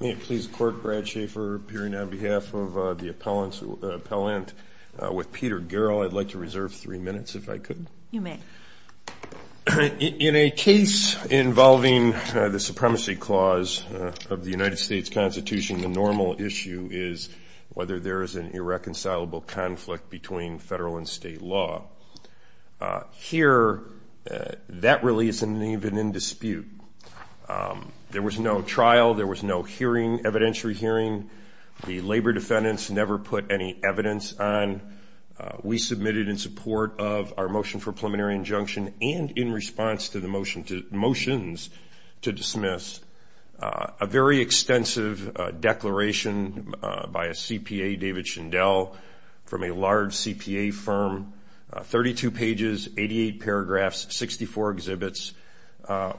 May it please the court, Brad Schaefer, appearing on behalf of the appellant with Peter Garrell. I'd like to reserve three minutes if I could. You may. In a case involving the Supremacy Clause of the United States Constitution, the normal issue is whether there is an irreconcilable conflict between federal and state law. Here, that really isn't even in dispute. There was no trial. There was no hearing, evidentiary hearing. The labor defendants never put any evidence on. We submitted in support of our motion for preliminary injunction and in response to the motions to dismiss a very extensive declaration by a CPA, David Shindell, from a large CPA firm, 32 pages, 88 paragraphs, 64 exhibits,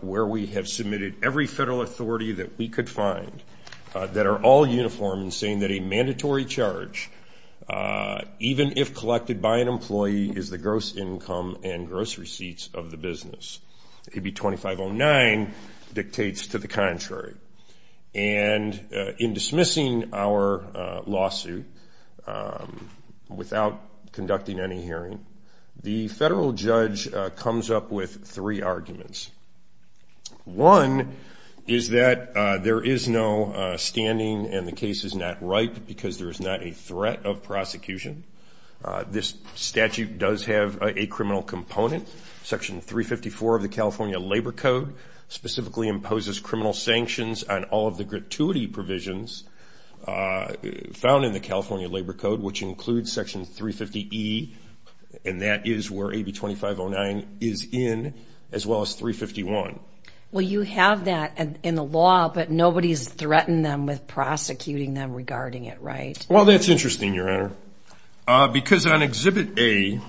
where we have submitted every federal authority that we could find that are all uniform in saying that a mandatory charge, even if collected by an employee, is the gross income and gross receipts of the business. AB 2509 dictates to the contrary. And in dismissing our lawsuit without conducting any hearing, the federal judge comes up with three arguments. One is that there is no standing and the case is not ripe because there is not a threat of prosecution. This statute does have a criminal component. Section 354 of the California Labor Code specifically imposes criminal sanctions on all of the gratuity provisions found in the California Labor Code, which includes Section 350E, and that is where AB 2509 is in, as well as 351. Well, you have that in the law, but nobody's threatened them with prosecuting them regarding it, right? Well, that's interesting, Your Honor. Because on Exhibit A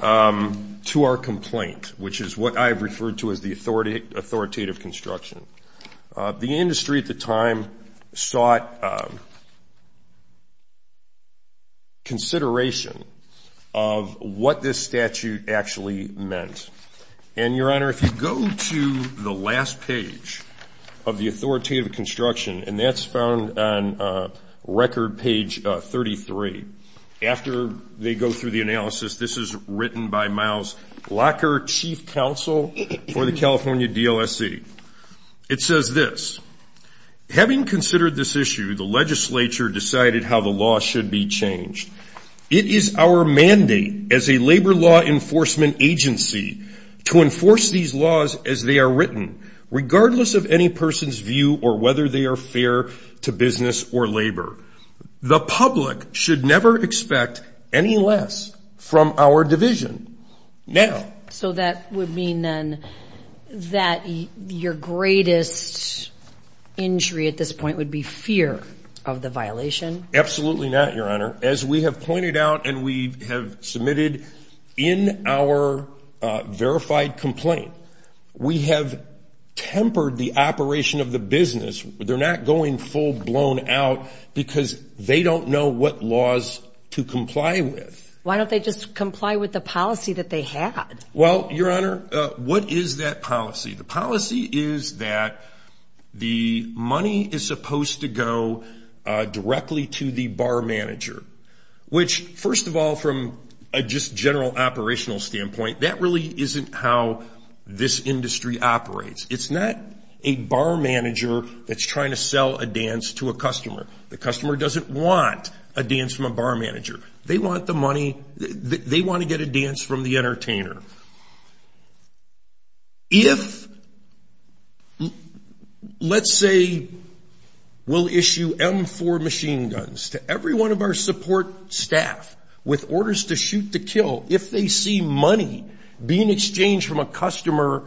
to our complaint, which is what I've referred to as the authoritative construction, the industry at the time sought consideration of what this statute actually meant. And, Your Honor, if you go to the last page of the authoritative construction, and that's found on record page 33, after they go through the analysis, this is written by Miles Locker, Chief Counsel for the California DLSC. It says this. Having considered this issue, the legislature decided how the law should be changed. It is our mandate as a labor law enforcement agency to enforce these laws as they are written, regardless of any person's view or whether they are fair to business or labor. The public should never expect any less from our division. Now. So that would mean then that your greatest injury at this point would be fear of the violation? Absolutely not, Your Honor. As we have pointed out and we have submitted in our verified complaint, we have tempered the operation of the business. They're not going full blown out because they don't know what laws to comply with. Why don't they just comply with the policy that they had? Well, Your Honor, what is that policy? The policy is that the money is supposed to go directly to the bar manager, which, first of all, from a just general operational standpoint, that really isn't how this industry operates. It's not a bar manager that's trying to sell a dance to a customer. The customer doesn't want a dance from a bar manager. They want the money. They want to get a dance from the entertainer. If, let's say, we'll issue M4 machine guns to every one of our support staff with orders to shoot to kill, if they see money being exchanged from a customer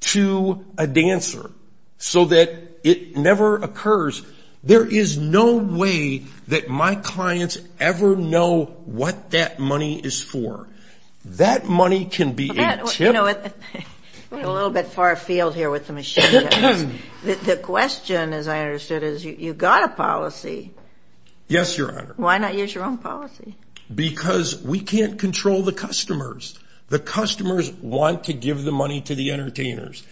to a dancer so that it never occurs, there is no way that my clients ever know what that money is for. That money can be a chip. We're a little bit far afield here with the machine guns. The question, as I understood, is you've got a policy. Yes, Your Honor. Why not use your own policy? Because we can't control the customers. The customers want to give the money to the entertainers.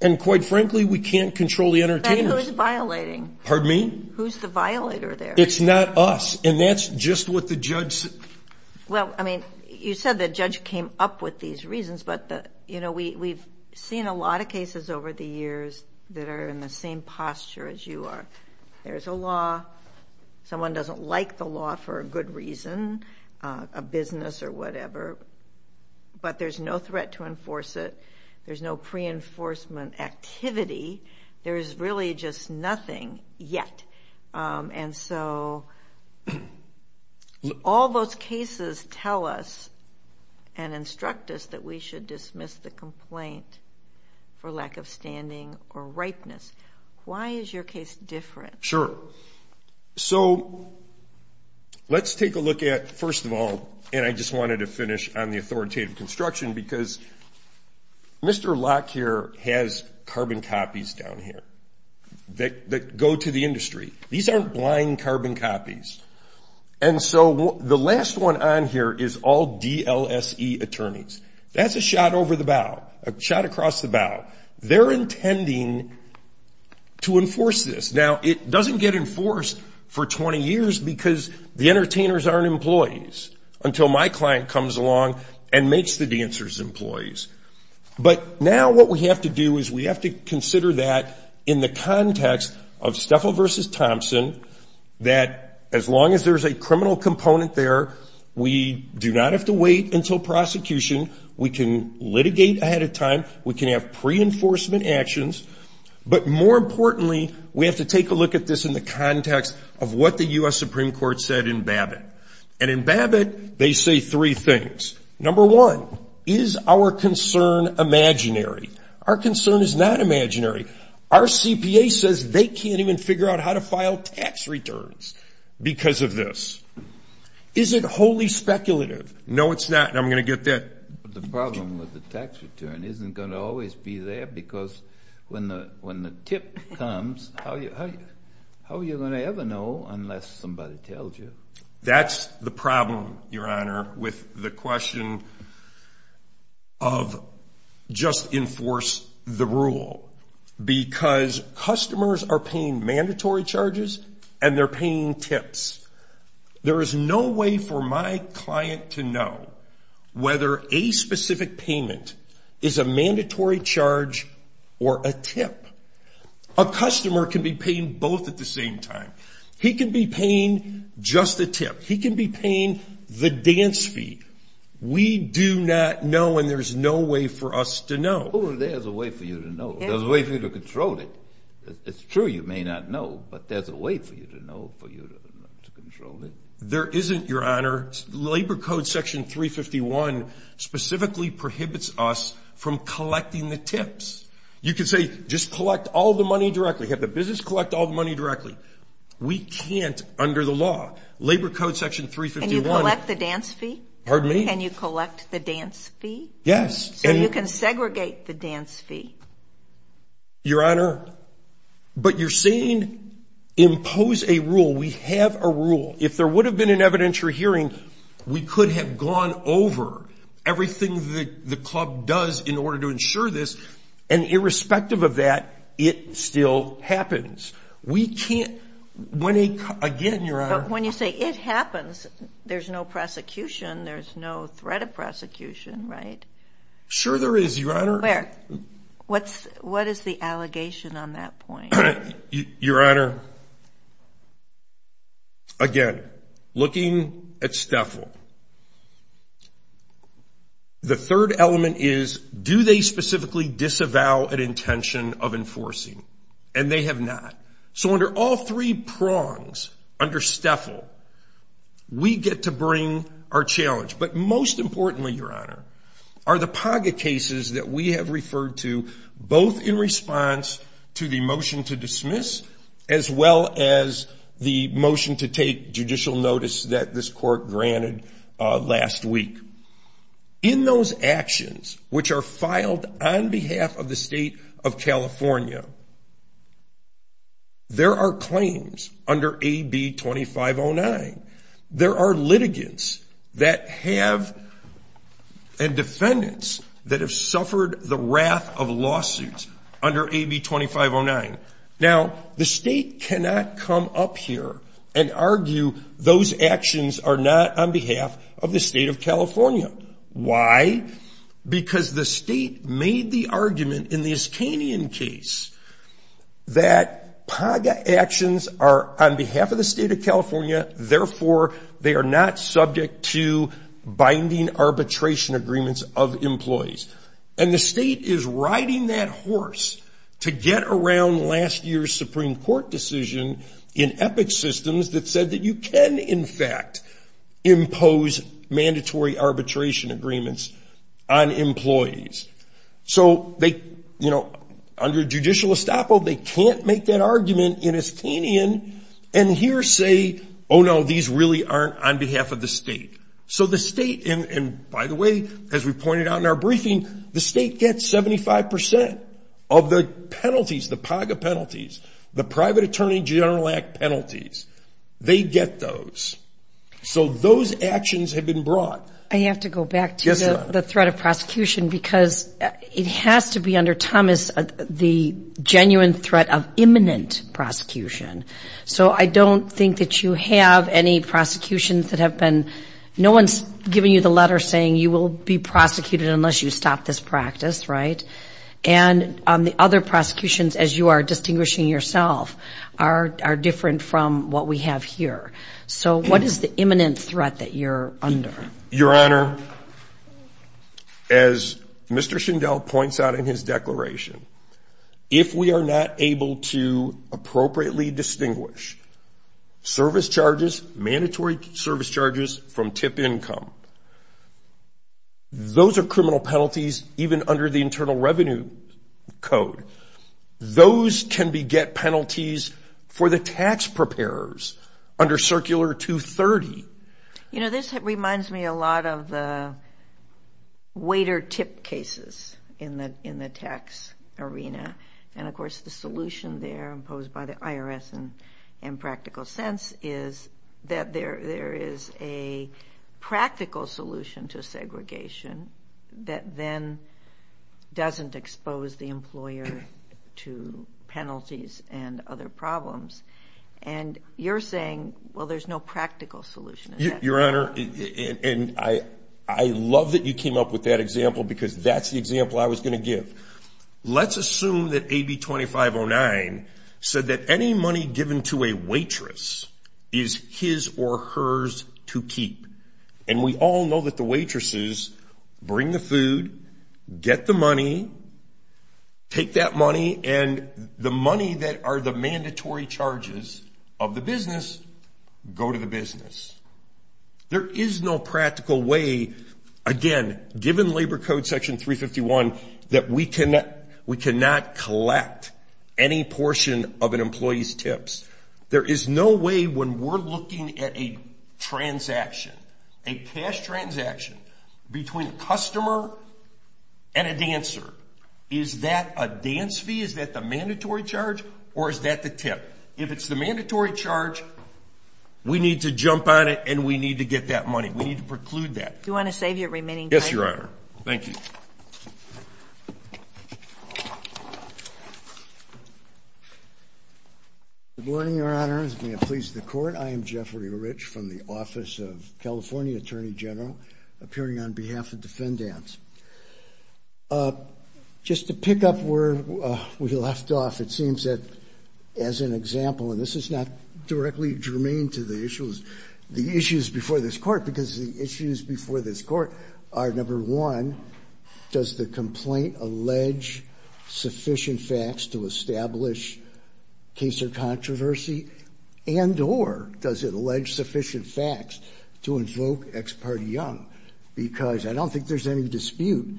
And, quite frankly, we can't control the entertainers. Then who's violating? Pardon me? Who's the violator there? It's not us. And that's just what the judge said. Well, I mean, you said the judge came up with these reasons, but we've seen a lot of cases over the years that are in the same posture as you are. There's a law. Someone doesn't like the law for a good reason, a business or whatever, but there's no threat to enforce it. There's no pre-enforcement activity. There's really just nothing yet. And so all those cases tell us and instruct us that we should dismiss the complaint for lack of standing or ripeness. Why is your case different? Sure. So let's take a look at, first of all, and I just wanted to finish on the authoritative construction, because Mr. Locke here has carbon copies down here that go to the industry. These aren't blind carbon copies. And so the last one on here is all DLSE attorneys. That's a shot over the bow, a shot across the bow. They're intending to enforce this. Now, it doesn't get enforced for 20 years because the entertainers aren't employees until my client comes along and makes the dancers employees. But now what we have to do is we have to consider that in the context of Steffel versus Thompson, that as long as there's a criminal component there, we do not have to wait until prosecution. We can litigate ahead of time. We can have pre-enforcement actions. But more importantly, we have to take a look at this in the context of what the U.S. Supreme Court said in Babbitt. And in Babbitt, they say three things. Number one, is our concern imaginary? Our concern is not imaginary. Our CPA says they can't even figure out how to file tax returns because of this. Is it wholly speculative? No, it's not, and I'm going to get that. The problem with the tax return isn't going to always be there because when the tip comes, how are you going to ever know unless somebody tells you? That's the problem, Your Honor, with the question of just enforce the rule because customers are paying mandatory charges and they're paying tips. There is no way for my client to know whether a specific payment is a mandatory charge or a tip. A customer can be paying both at the same time. He can be paying just the tip. He can be paying the dance fee. We do not know and there's no way for us to know. Oh, there's a way for you to know. There's a way for you to control it. It's true you may not know, but there's a way for you to know for you to control it. There isn't, Your Honor. Labor Code Section 351 specifically prohibits us from collecting the tips. You can say just collect all the money directly, have the business collect all the money directly. We can't under the law. Labor Code Section 351. Can you collect the dance fee? Pardon me? Can you collect the dance fee? Yes. So you can segregate the dance fee. Your Honor, but you're saying impose a rule. We have a rule. If there would have been an evidentiary hearing, we could have gone over everything the club does in order to ensure this, and irrespective of that, it still happens. We can't, again, Your Honor. But when you say it happens, there's no prosecution. There's no threat of prosecution, right? Sure there is, Your Honor. What is the allegation on that point? Your Honor, again, looking at STFL, the third element is do they specifically disavow an intention of enforcing? And they have not. So under all three prongs, under STFL, we get to bring our challenge. But most importantly, Your Honor, are the PAGA cases that we have referred to, both in response to the motion to dismiss, as well as the motion to take judicial notice that this court granted last week. In those actions, which are filed on behalf of the State of California, there are claims under AB 2509. There are litigants that have, and defendants, that have suffered the wrath of lawsuits under AB 2509. Now, the State cannot come up here and argue those actions are not on behalf of the State of California. Why? Because the State made the argument in the Iskanian case that PAGA actions are on behalf of the State of California, therefore they are not subject to binding arbitration agreements of employees. And the State is riding that horse to get around last year's Supreme Court decision in EPIC systems that said that you can, in fact, impose mandatory arbitration agreements on employees. So under judicial estoppel, they can't make that argument in Iskanian and here say, oh, no, these really aren't on behalf of the State. So the State, and by the way, as we pointed out in our briefing, the State gets 75% of the penalties, the PAGA penalties, the Private Attorney General Act penalties. They get those. So those actions have been brought. I have to go back to the threat of prosecution because it has to be under Thomas the genuine threat of imminent prosecution. So I don't think that you have any prosecutions that have been no one's giving you the letter saying you will be prosecuted unless you stop this practice, right? And the other prosecutions, as you are distinguishing yourself, are different from what we have here. So what is the imminent threat that you're under? Your Honor, as Mr. Schindel points out in his declaration, if we are not able to appropriately distinguish service charges, mandatory service charges from tip income, those are criminal penalties even under the Internal Revenue Code. Those can beget penalties for the tax preparers under Circular 230. You know, this reminds me a lot of the waiter tip cases in the tax arena. And, of course, the solution there imposed by the IRS in practical sense is that there is a practical solution to segregation that then doesn't expose the employer to penalties and other problems. And you're saying, well, there's no practical solution. Your Honor, and I love that you came up with that example because that's the example I was going to give. Let's assume that AB 2509 said that any money given to a waitress is his or hers to keep. And we all know that the waitresses bring the food, get the money, take that money, and the money that are the mandatory charges of the business go to the business. There is no practical way, again, given Labor Code Section 351, that we cannot collect any portion of an employee's tips. There is no way when we're looking at a transaction, a cash transaction between a customer and a dancer, is that a dance fee, is that the mandatory charge, or is that the tip? If it's the mandatory charge, we need to jump on it and we need to get that money. We need to preclude that. Do you want to save your remaining time? Yes, Your Honor. Thank you. Good morning, Your Honor, and may it please the Court. I am Jeffrey Rich from the Office of California Attorney General, appearing on behalf of defendants. Just to pick up where we left off, it seems that, as an example, and this is not directly germane to the issues before this Court, because the issues before this Court are, number one, does the complaint allege sufficient facts to establish case or controversy, and or does it allege sufficient facts to invoke ex parte young? Because I don't think there's any dispute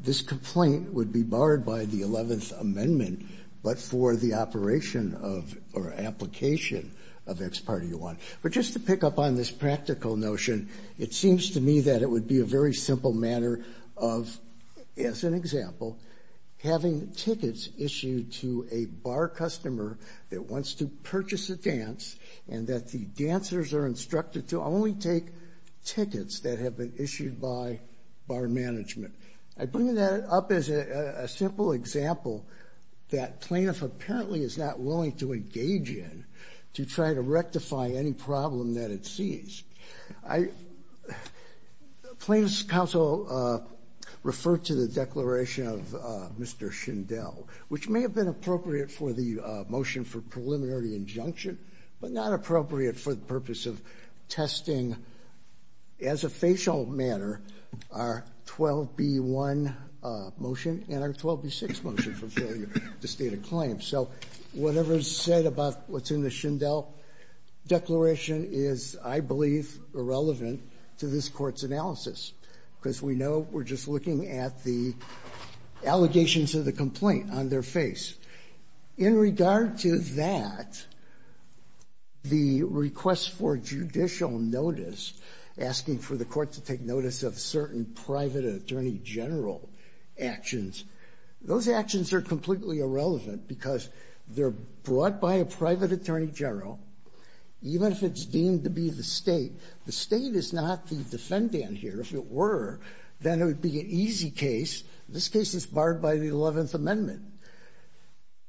this complaint would be barred by the 11th Amendment, but for the operation of or application of ex parte one. But just to pick up on this practical notion, it seems to me that it would be a very simple matter of, as an example, having tickets issued to a bar customer that wants to purchase a dance and that the dancers are instructed to only take tickets that have been issued by bar management. I bring that up as a simple example that plaintiff apparently is not willing to engage in to try to rectify any problem that it sees. Plaintiff's counsel referred to the declaration of Mr. Schindel, which may have been appropriate for the motion for preliminary injunction, but not appropriate for the purpose of testing, as a facial matter, our 12B1 motion and our 12B6 motion for failure to state a claim. So whatever is said about what's in the Schindel declaration is, I believe, irrelevant to this Court's analysis, because we know we're just looking at the allegations of the complaint on their face. In regard to that, the request for judicial notice, asking for the Court to take notice of certain private attorney general actions, those actions are completely irrelevant because they're brought by a private attorney general, even if it's deemed to be the state. The state is not the defendant here. If it were, then it would be an easy case. This case is barred by the 11th Amendment.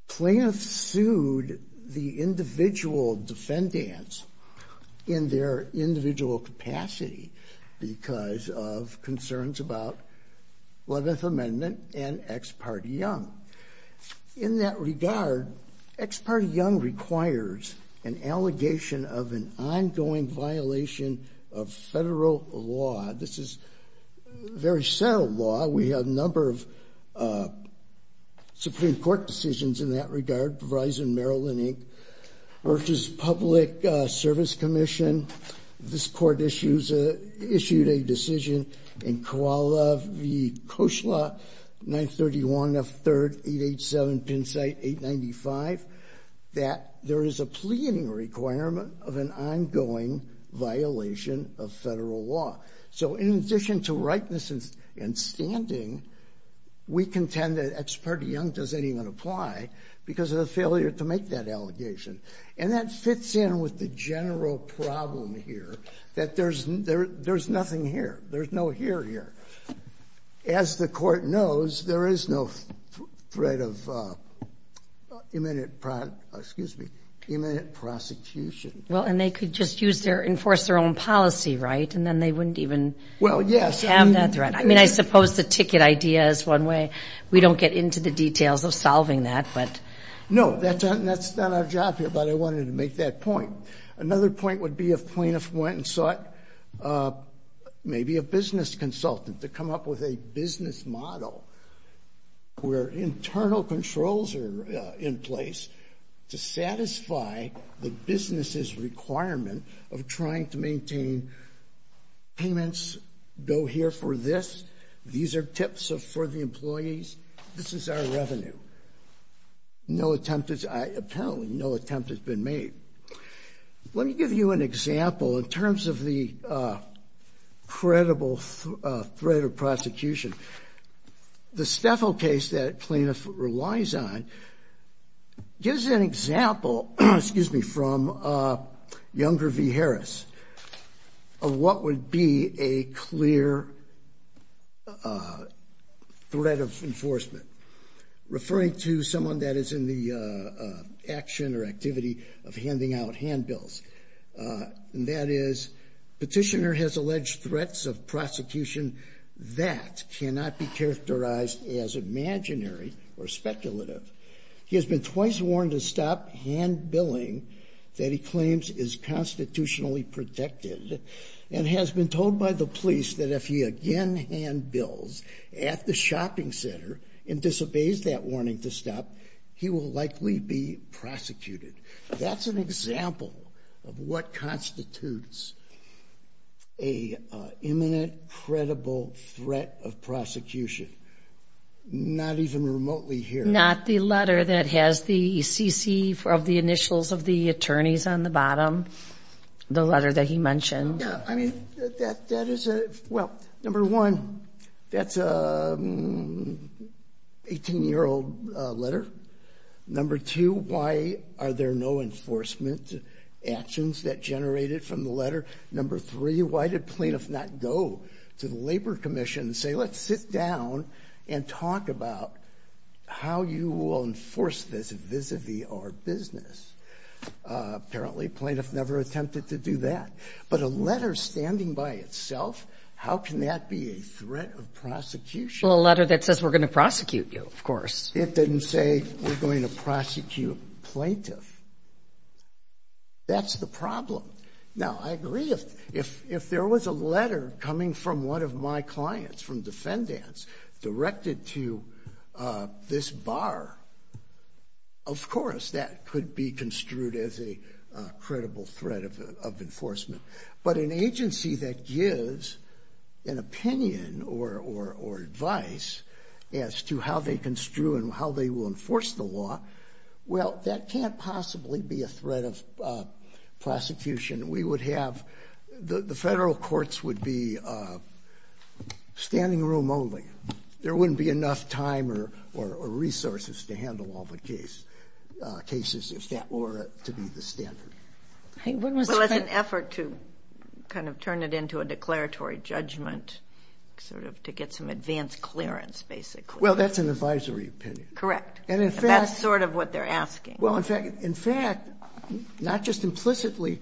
Plaintiffs sued the individual defendants in their individual capacity because of concerns about 11th Amendment and Ex parte Young. In that regard, Ex parte Young requires an allegation of an ongoing violation of federal law. This is very subtle law. We have a number of Supreme Court decisions in that regard, Verizon, Maryland Inc., Verge's Public Service Commission. This Court issued a decision in Koala v. Koshla, 931 F. 3rd, 887 Pennsite, 895, that there is a pleading requirement of an ongoing violation of federal law. So in addition to rightness and standing, we contend that Ex parte Young doesn't even apply because of the failure to make that allegation. And that fits in with the general problem here, that there's nothing here. There's no here here. As the Court knows, there is no threat of imminent prosecution. Well, and they could just enforce their own policy, right? And then they wouldn't even have that threat. Well, yes. I mean, I suppose the ticket idea is one way. We don't get into the details of solving that. No, that's not our job here, but I wanted to make that point. Another point would be if plaintiffs went and sought maybe a business consultant to come up with a business model where internal controls are in place to satisfy the business's requirement of trying to maintain payments, go here for this, these are tips for the employees, this is our revenue. No attempt has been made. Let me give you an example in terms of the credible threat of prosecution. The Steffel case that plaintiffs relies on gives an example from Younger v. Harris of what would be a clear threat of enforcement. Referring to someone that is in the action or activity of handing out handbills. That is, petitioner has alleged threats of prosecution that cannot be characterized as imaginary or speculative. He has been twice warned to stop handbilling that he claims is constitutionally protected and has been told by the police that if he again handbills at the shopping center and disobeys that warning to stop, he will likely be prosecuted. That's an example of what constitutes an imminent, credible threat of prosecution. Not even remotely here. Not the letter that has the CC of the initials of the attorneys on the bottom, the letter that he mentioned. Yeah, I mean, that is a, well, number one, that's an 18-year-old letter. Number two, why are there no enforcement actions that generated from the letter? Number three, why did plaintiffs not go to the Labor Commission and say, let's sit down and talk about how you will enforce this vis-a-vis our business? Apparently plaintiff never attempted to do that. But a letter standing by itself, how can that be a threat of prosecution? Well, a letter that says we're going to prosecute you, of course. It didn't say we're going to prosecute plaintiff. That's the problem. Now, I agree if there was a letter coming from one of my clients, from defendants, directed to this bar, of course, that could be construed as a credible threat of enforcement. But an agency that gives an opinion or advice as to how they construe and how they will enforce the law, well, that can't possibly be a threat of prosecution. The federal courts would be standing room only. There wouldn't be enough time or resources to handle all the cases if that were to be the standard. Well, it's an effort to kind of turn it into a declaratory judgment, sort of to get some advanced clearance, basically. Well, that's an advisory opinion. Correct. That's sort of what they're asking. Well, in fact, not just implicitly,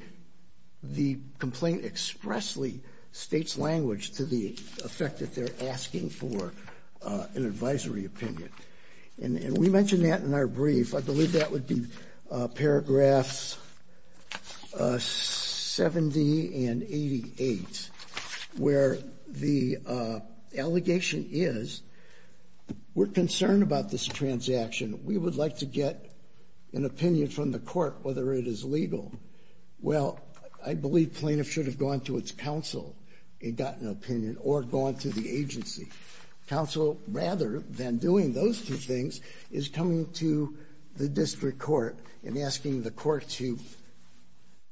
the complaint expressly states language to the effect that they're asking for an advisory opinion. And we mentioned that in our brief. I believe that would be paragraphs 70 and 88, where the allegation is we're concerned about this transaction. We would like to get an opinion from the court whether it is legal. Well, I believe plaintiff should have gone to its counsel and gotten an opinion or gone to the agency. Counsel, rather than doing those two things, is coming to the district court and asking the court to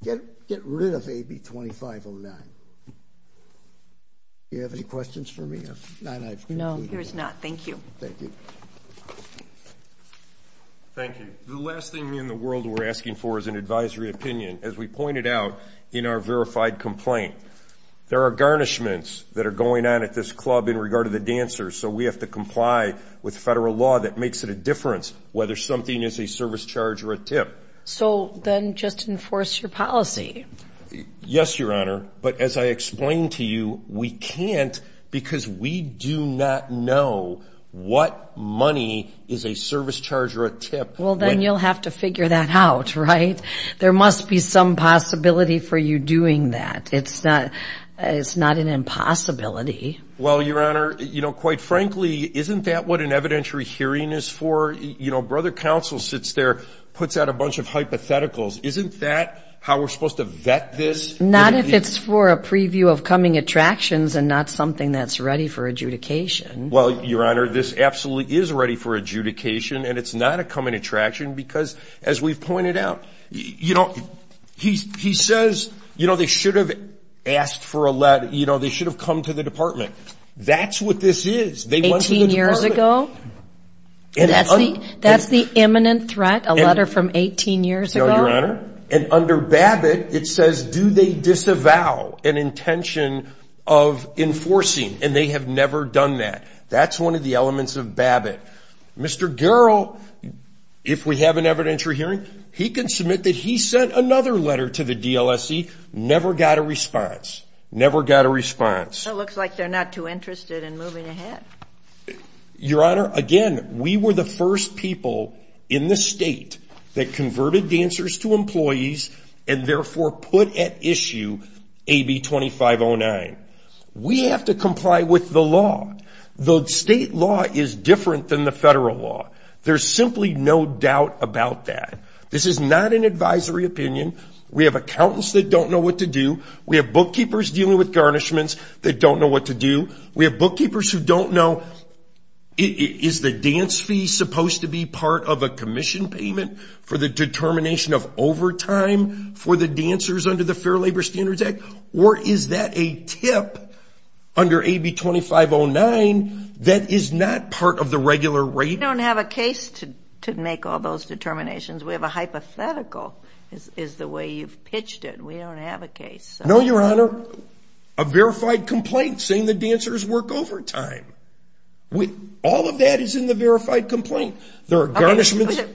get rid of AB 2509. Do you have any questions for me? No, yours not. Thank you. Thank you. The last thing in the world we're asking for is an advisory opinion. As we pointed out in our verified complaint, there are garnishments that are going on at this club in regard to the dancers, so we have to comply with federal law that makes it a difference whether something is a service charge or a tip. So then just enforce your policy. Yes, Your Honor. But as I explained to you, we can't because we do not know what money is a service charge or a tip. Well, then you'll have to figure that out, right? There must be some possibility for you doing that. It's not an impossibility. Well, Your Honor, you know, quite frankly, isn't that what an evidentiary hearing is for? You know, brother counsel sits there, puts out a bunch of hypotheticals. Isn't that how we're supposed to vet this? Not if it's for a preview of coming attractions and not something that's ready for adjudication. Well, Your Honor, this absolutely is ready for adjudication, and it's not a coming attraction because, as we've pointed out, you know, he says, you know, they should have asked for a letter, you know, they should have come to the department. That's what this is. Eighteen years ago? That's the imminent threat, a letter from 18 years ago? Your Honor, and under Babbitt, it says, do they disavow an intention of enforcing, and they have never done that. That's one of the elements of Babbitt. Mr. Garrell, if we have an evidentiary hearing, he can submit that he sent another letter to the DLSE, never got a response, never got a response. It looks like they're not too interested in moving ahead. Your Honor, again, we were the first people in the state that converted dancers to employees and therefore put at issue AB 2509. We have to comply with the law. The state law is different than the federal law. There's simply no doubt about that. This is not an advisory opinion. We have accountants that don't know what to do. We have bookkeepers dealing with garnishments that don't know what to do. We have bookkeepers who don't know, is the dance fee supposed to be part of a commission payment for the determination of overtime for the dancers under the Fair Labor Standards Act, or is that a tip under AB 2509 that is not part of the regular rate? We don't have a case to make all those determinations. We have a hypothetical, is the way you've pitched it. We don't have a case. No, Your Honor. A verified complaint saying the dancers work overtime. All of that is in the verified complaint. There are garnishments.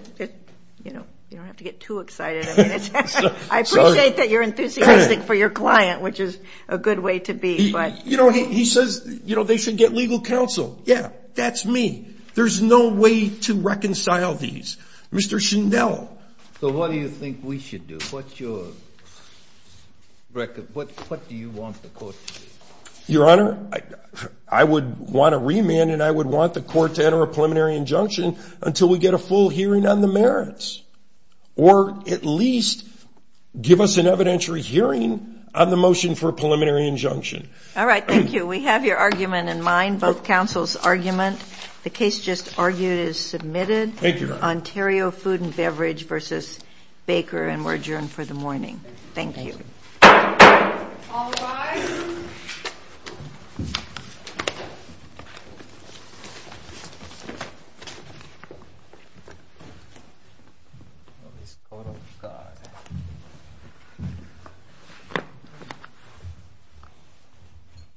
You don't have to get too excited. I appreciate that you're enthusiastic for your client, which is a good way to be. He says they should get legal counsel. Yeah, that's me. There's no way to reconcile these. Mr. Chanel. So what do you think we should do? What do you want the court to do? Your Honor, I would want a remand, and I would want the court to enter a preliminary injunction until we get a full hearing on the merits, or at least give us an evidentiary hearing on the motion for a preliminary injunction. All right, thank you. We have your argument in mind, both counsels' argument. The case just argued is submitted. Thank you, Your Honor. Ontario Food and Beverage v. Baker, and we're adjourned for the morning. Thank you. Thank you. All rise.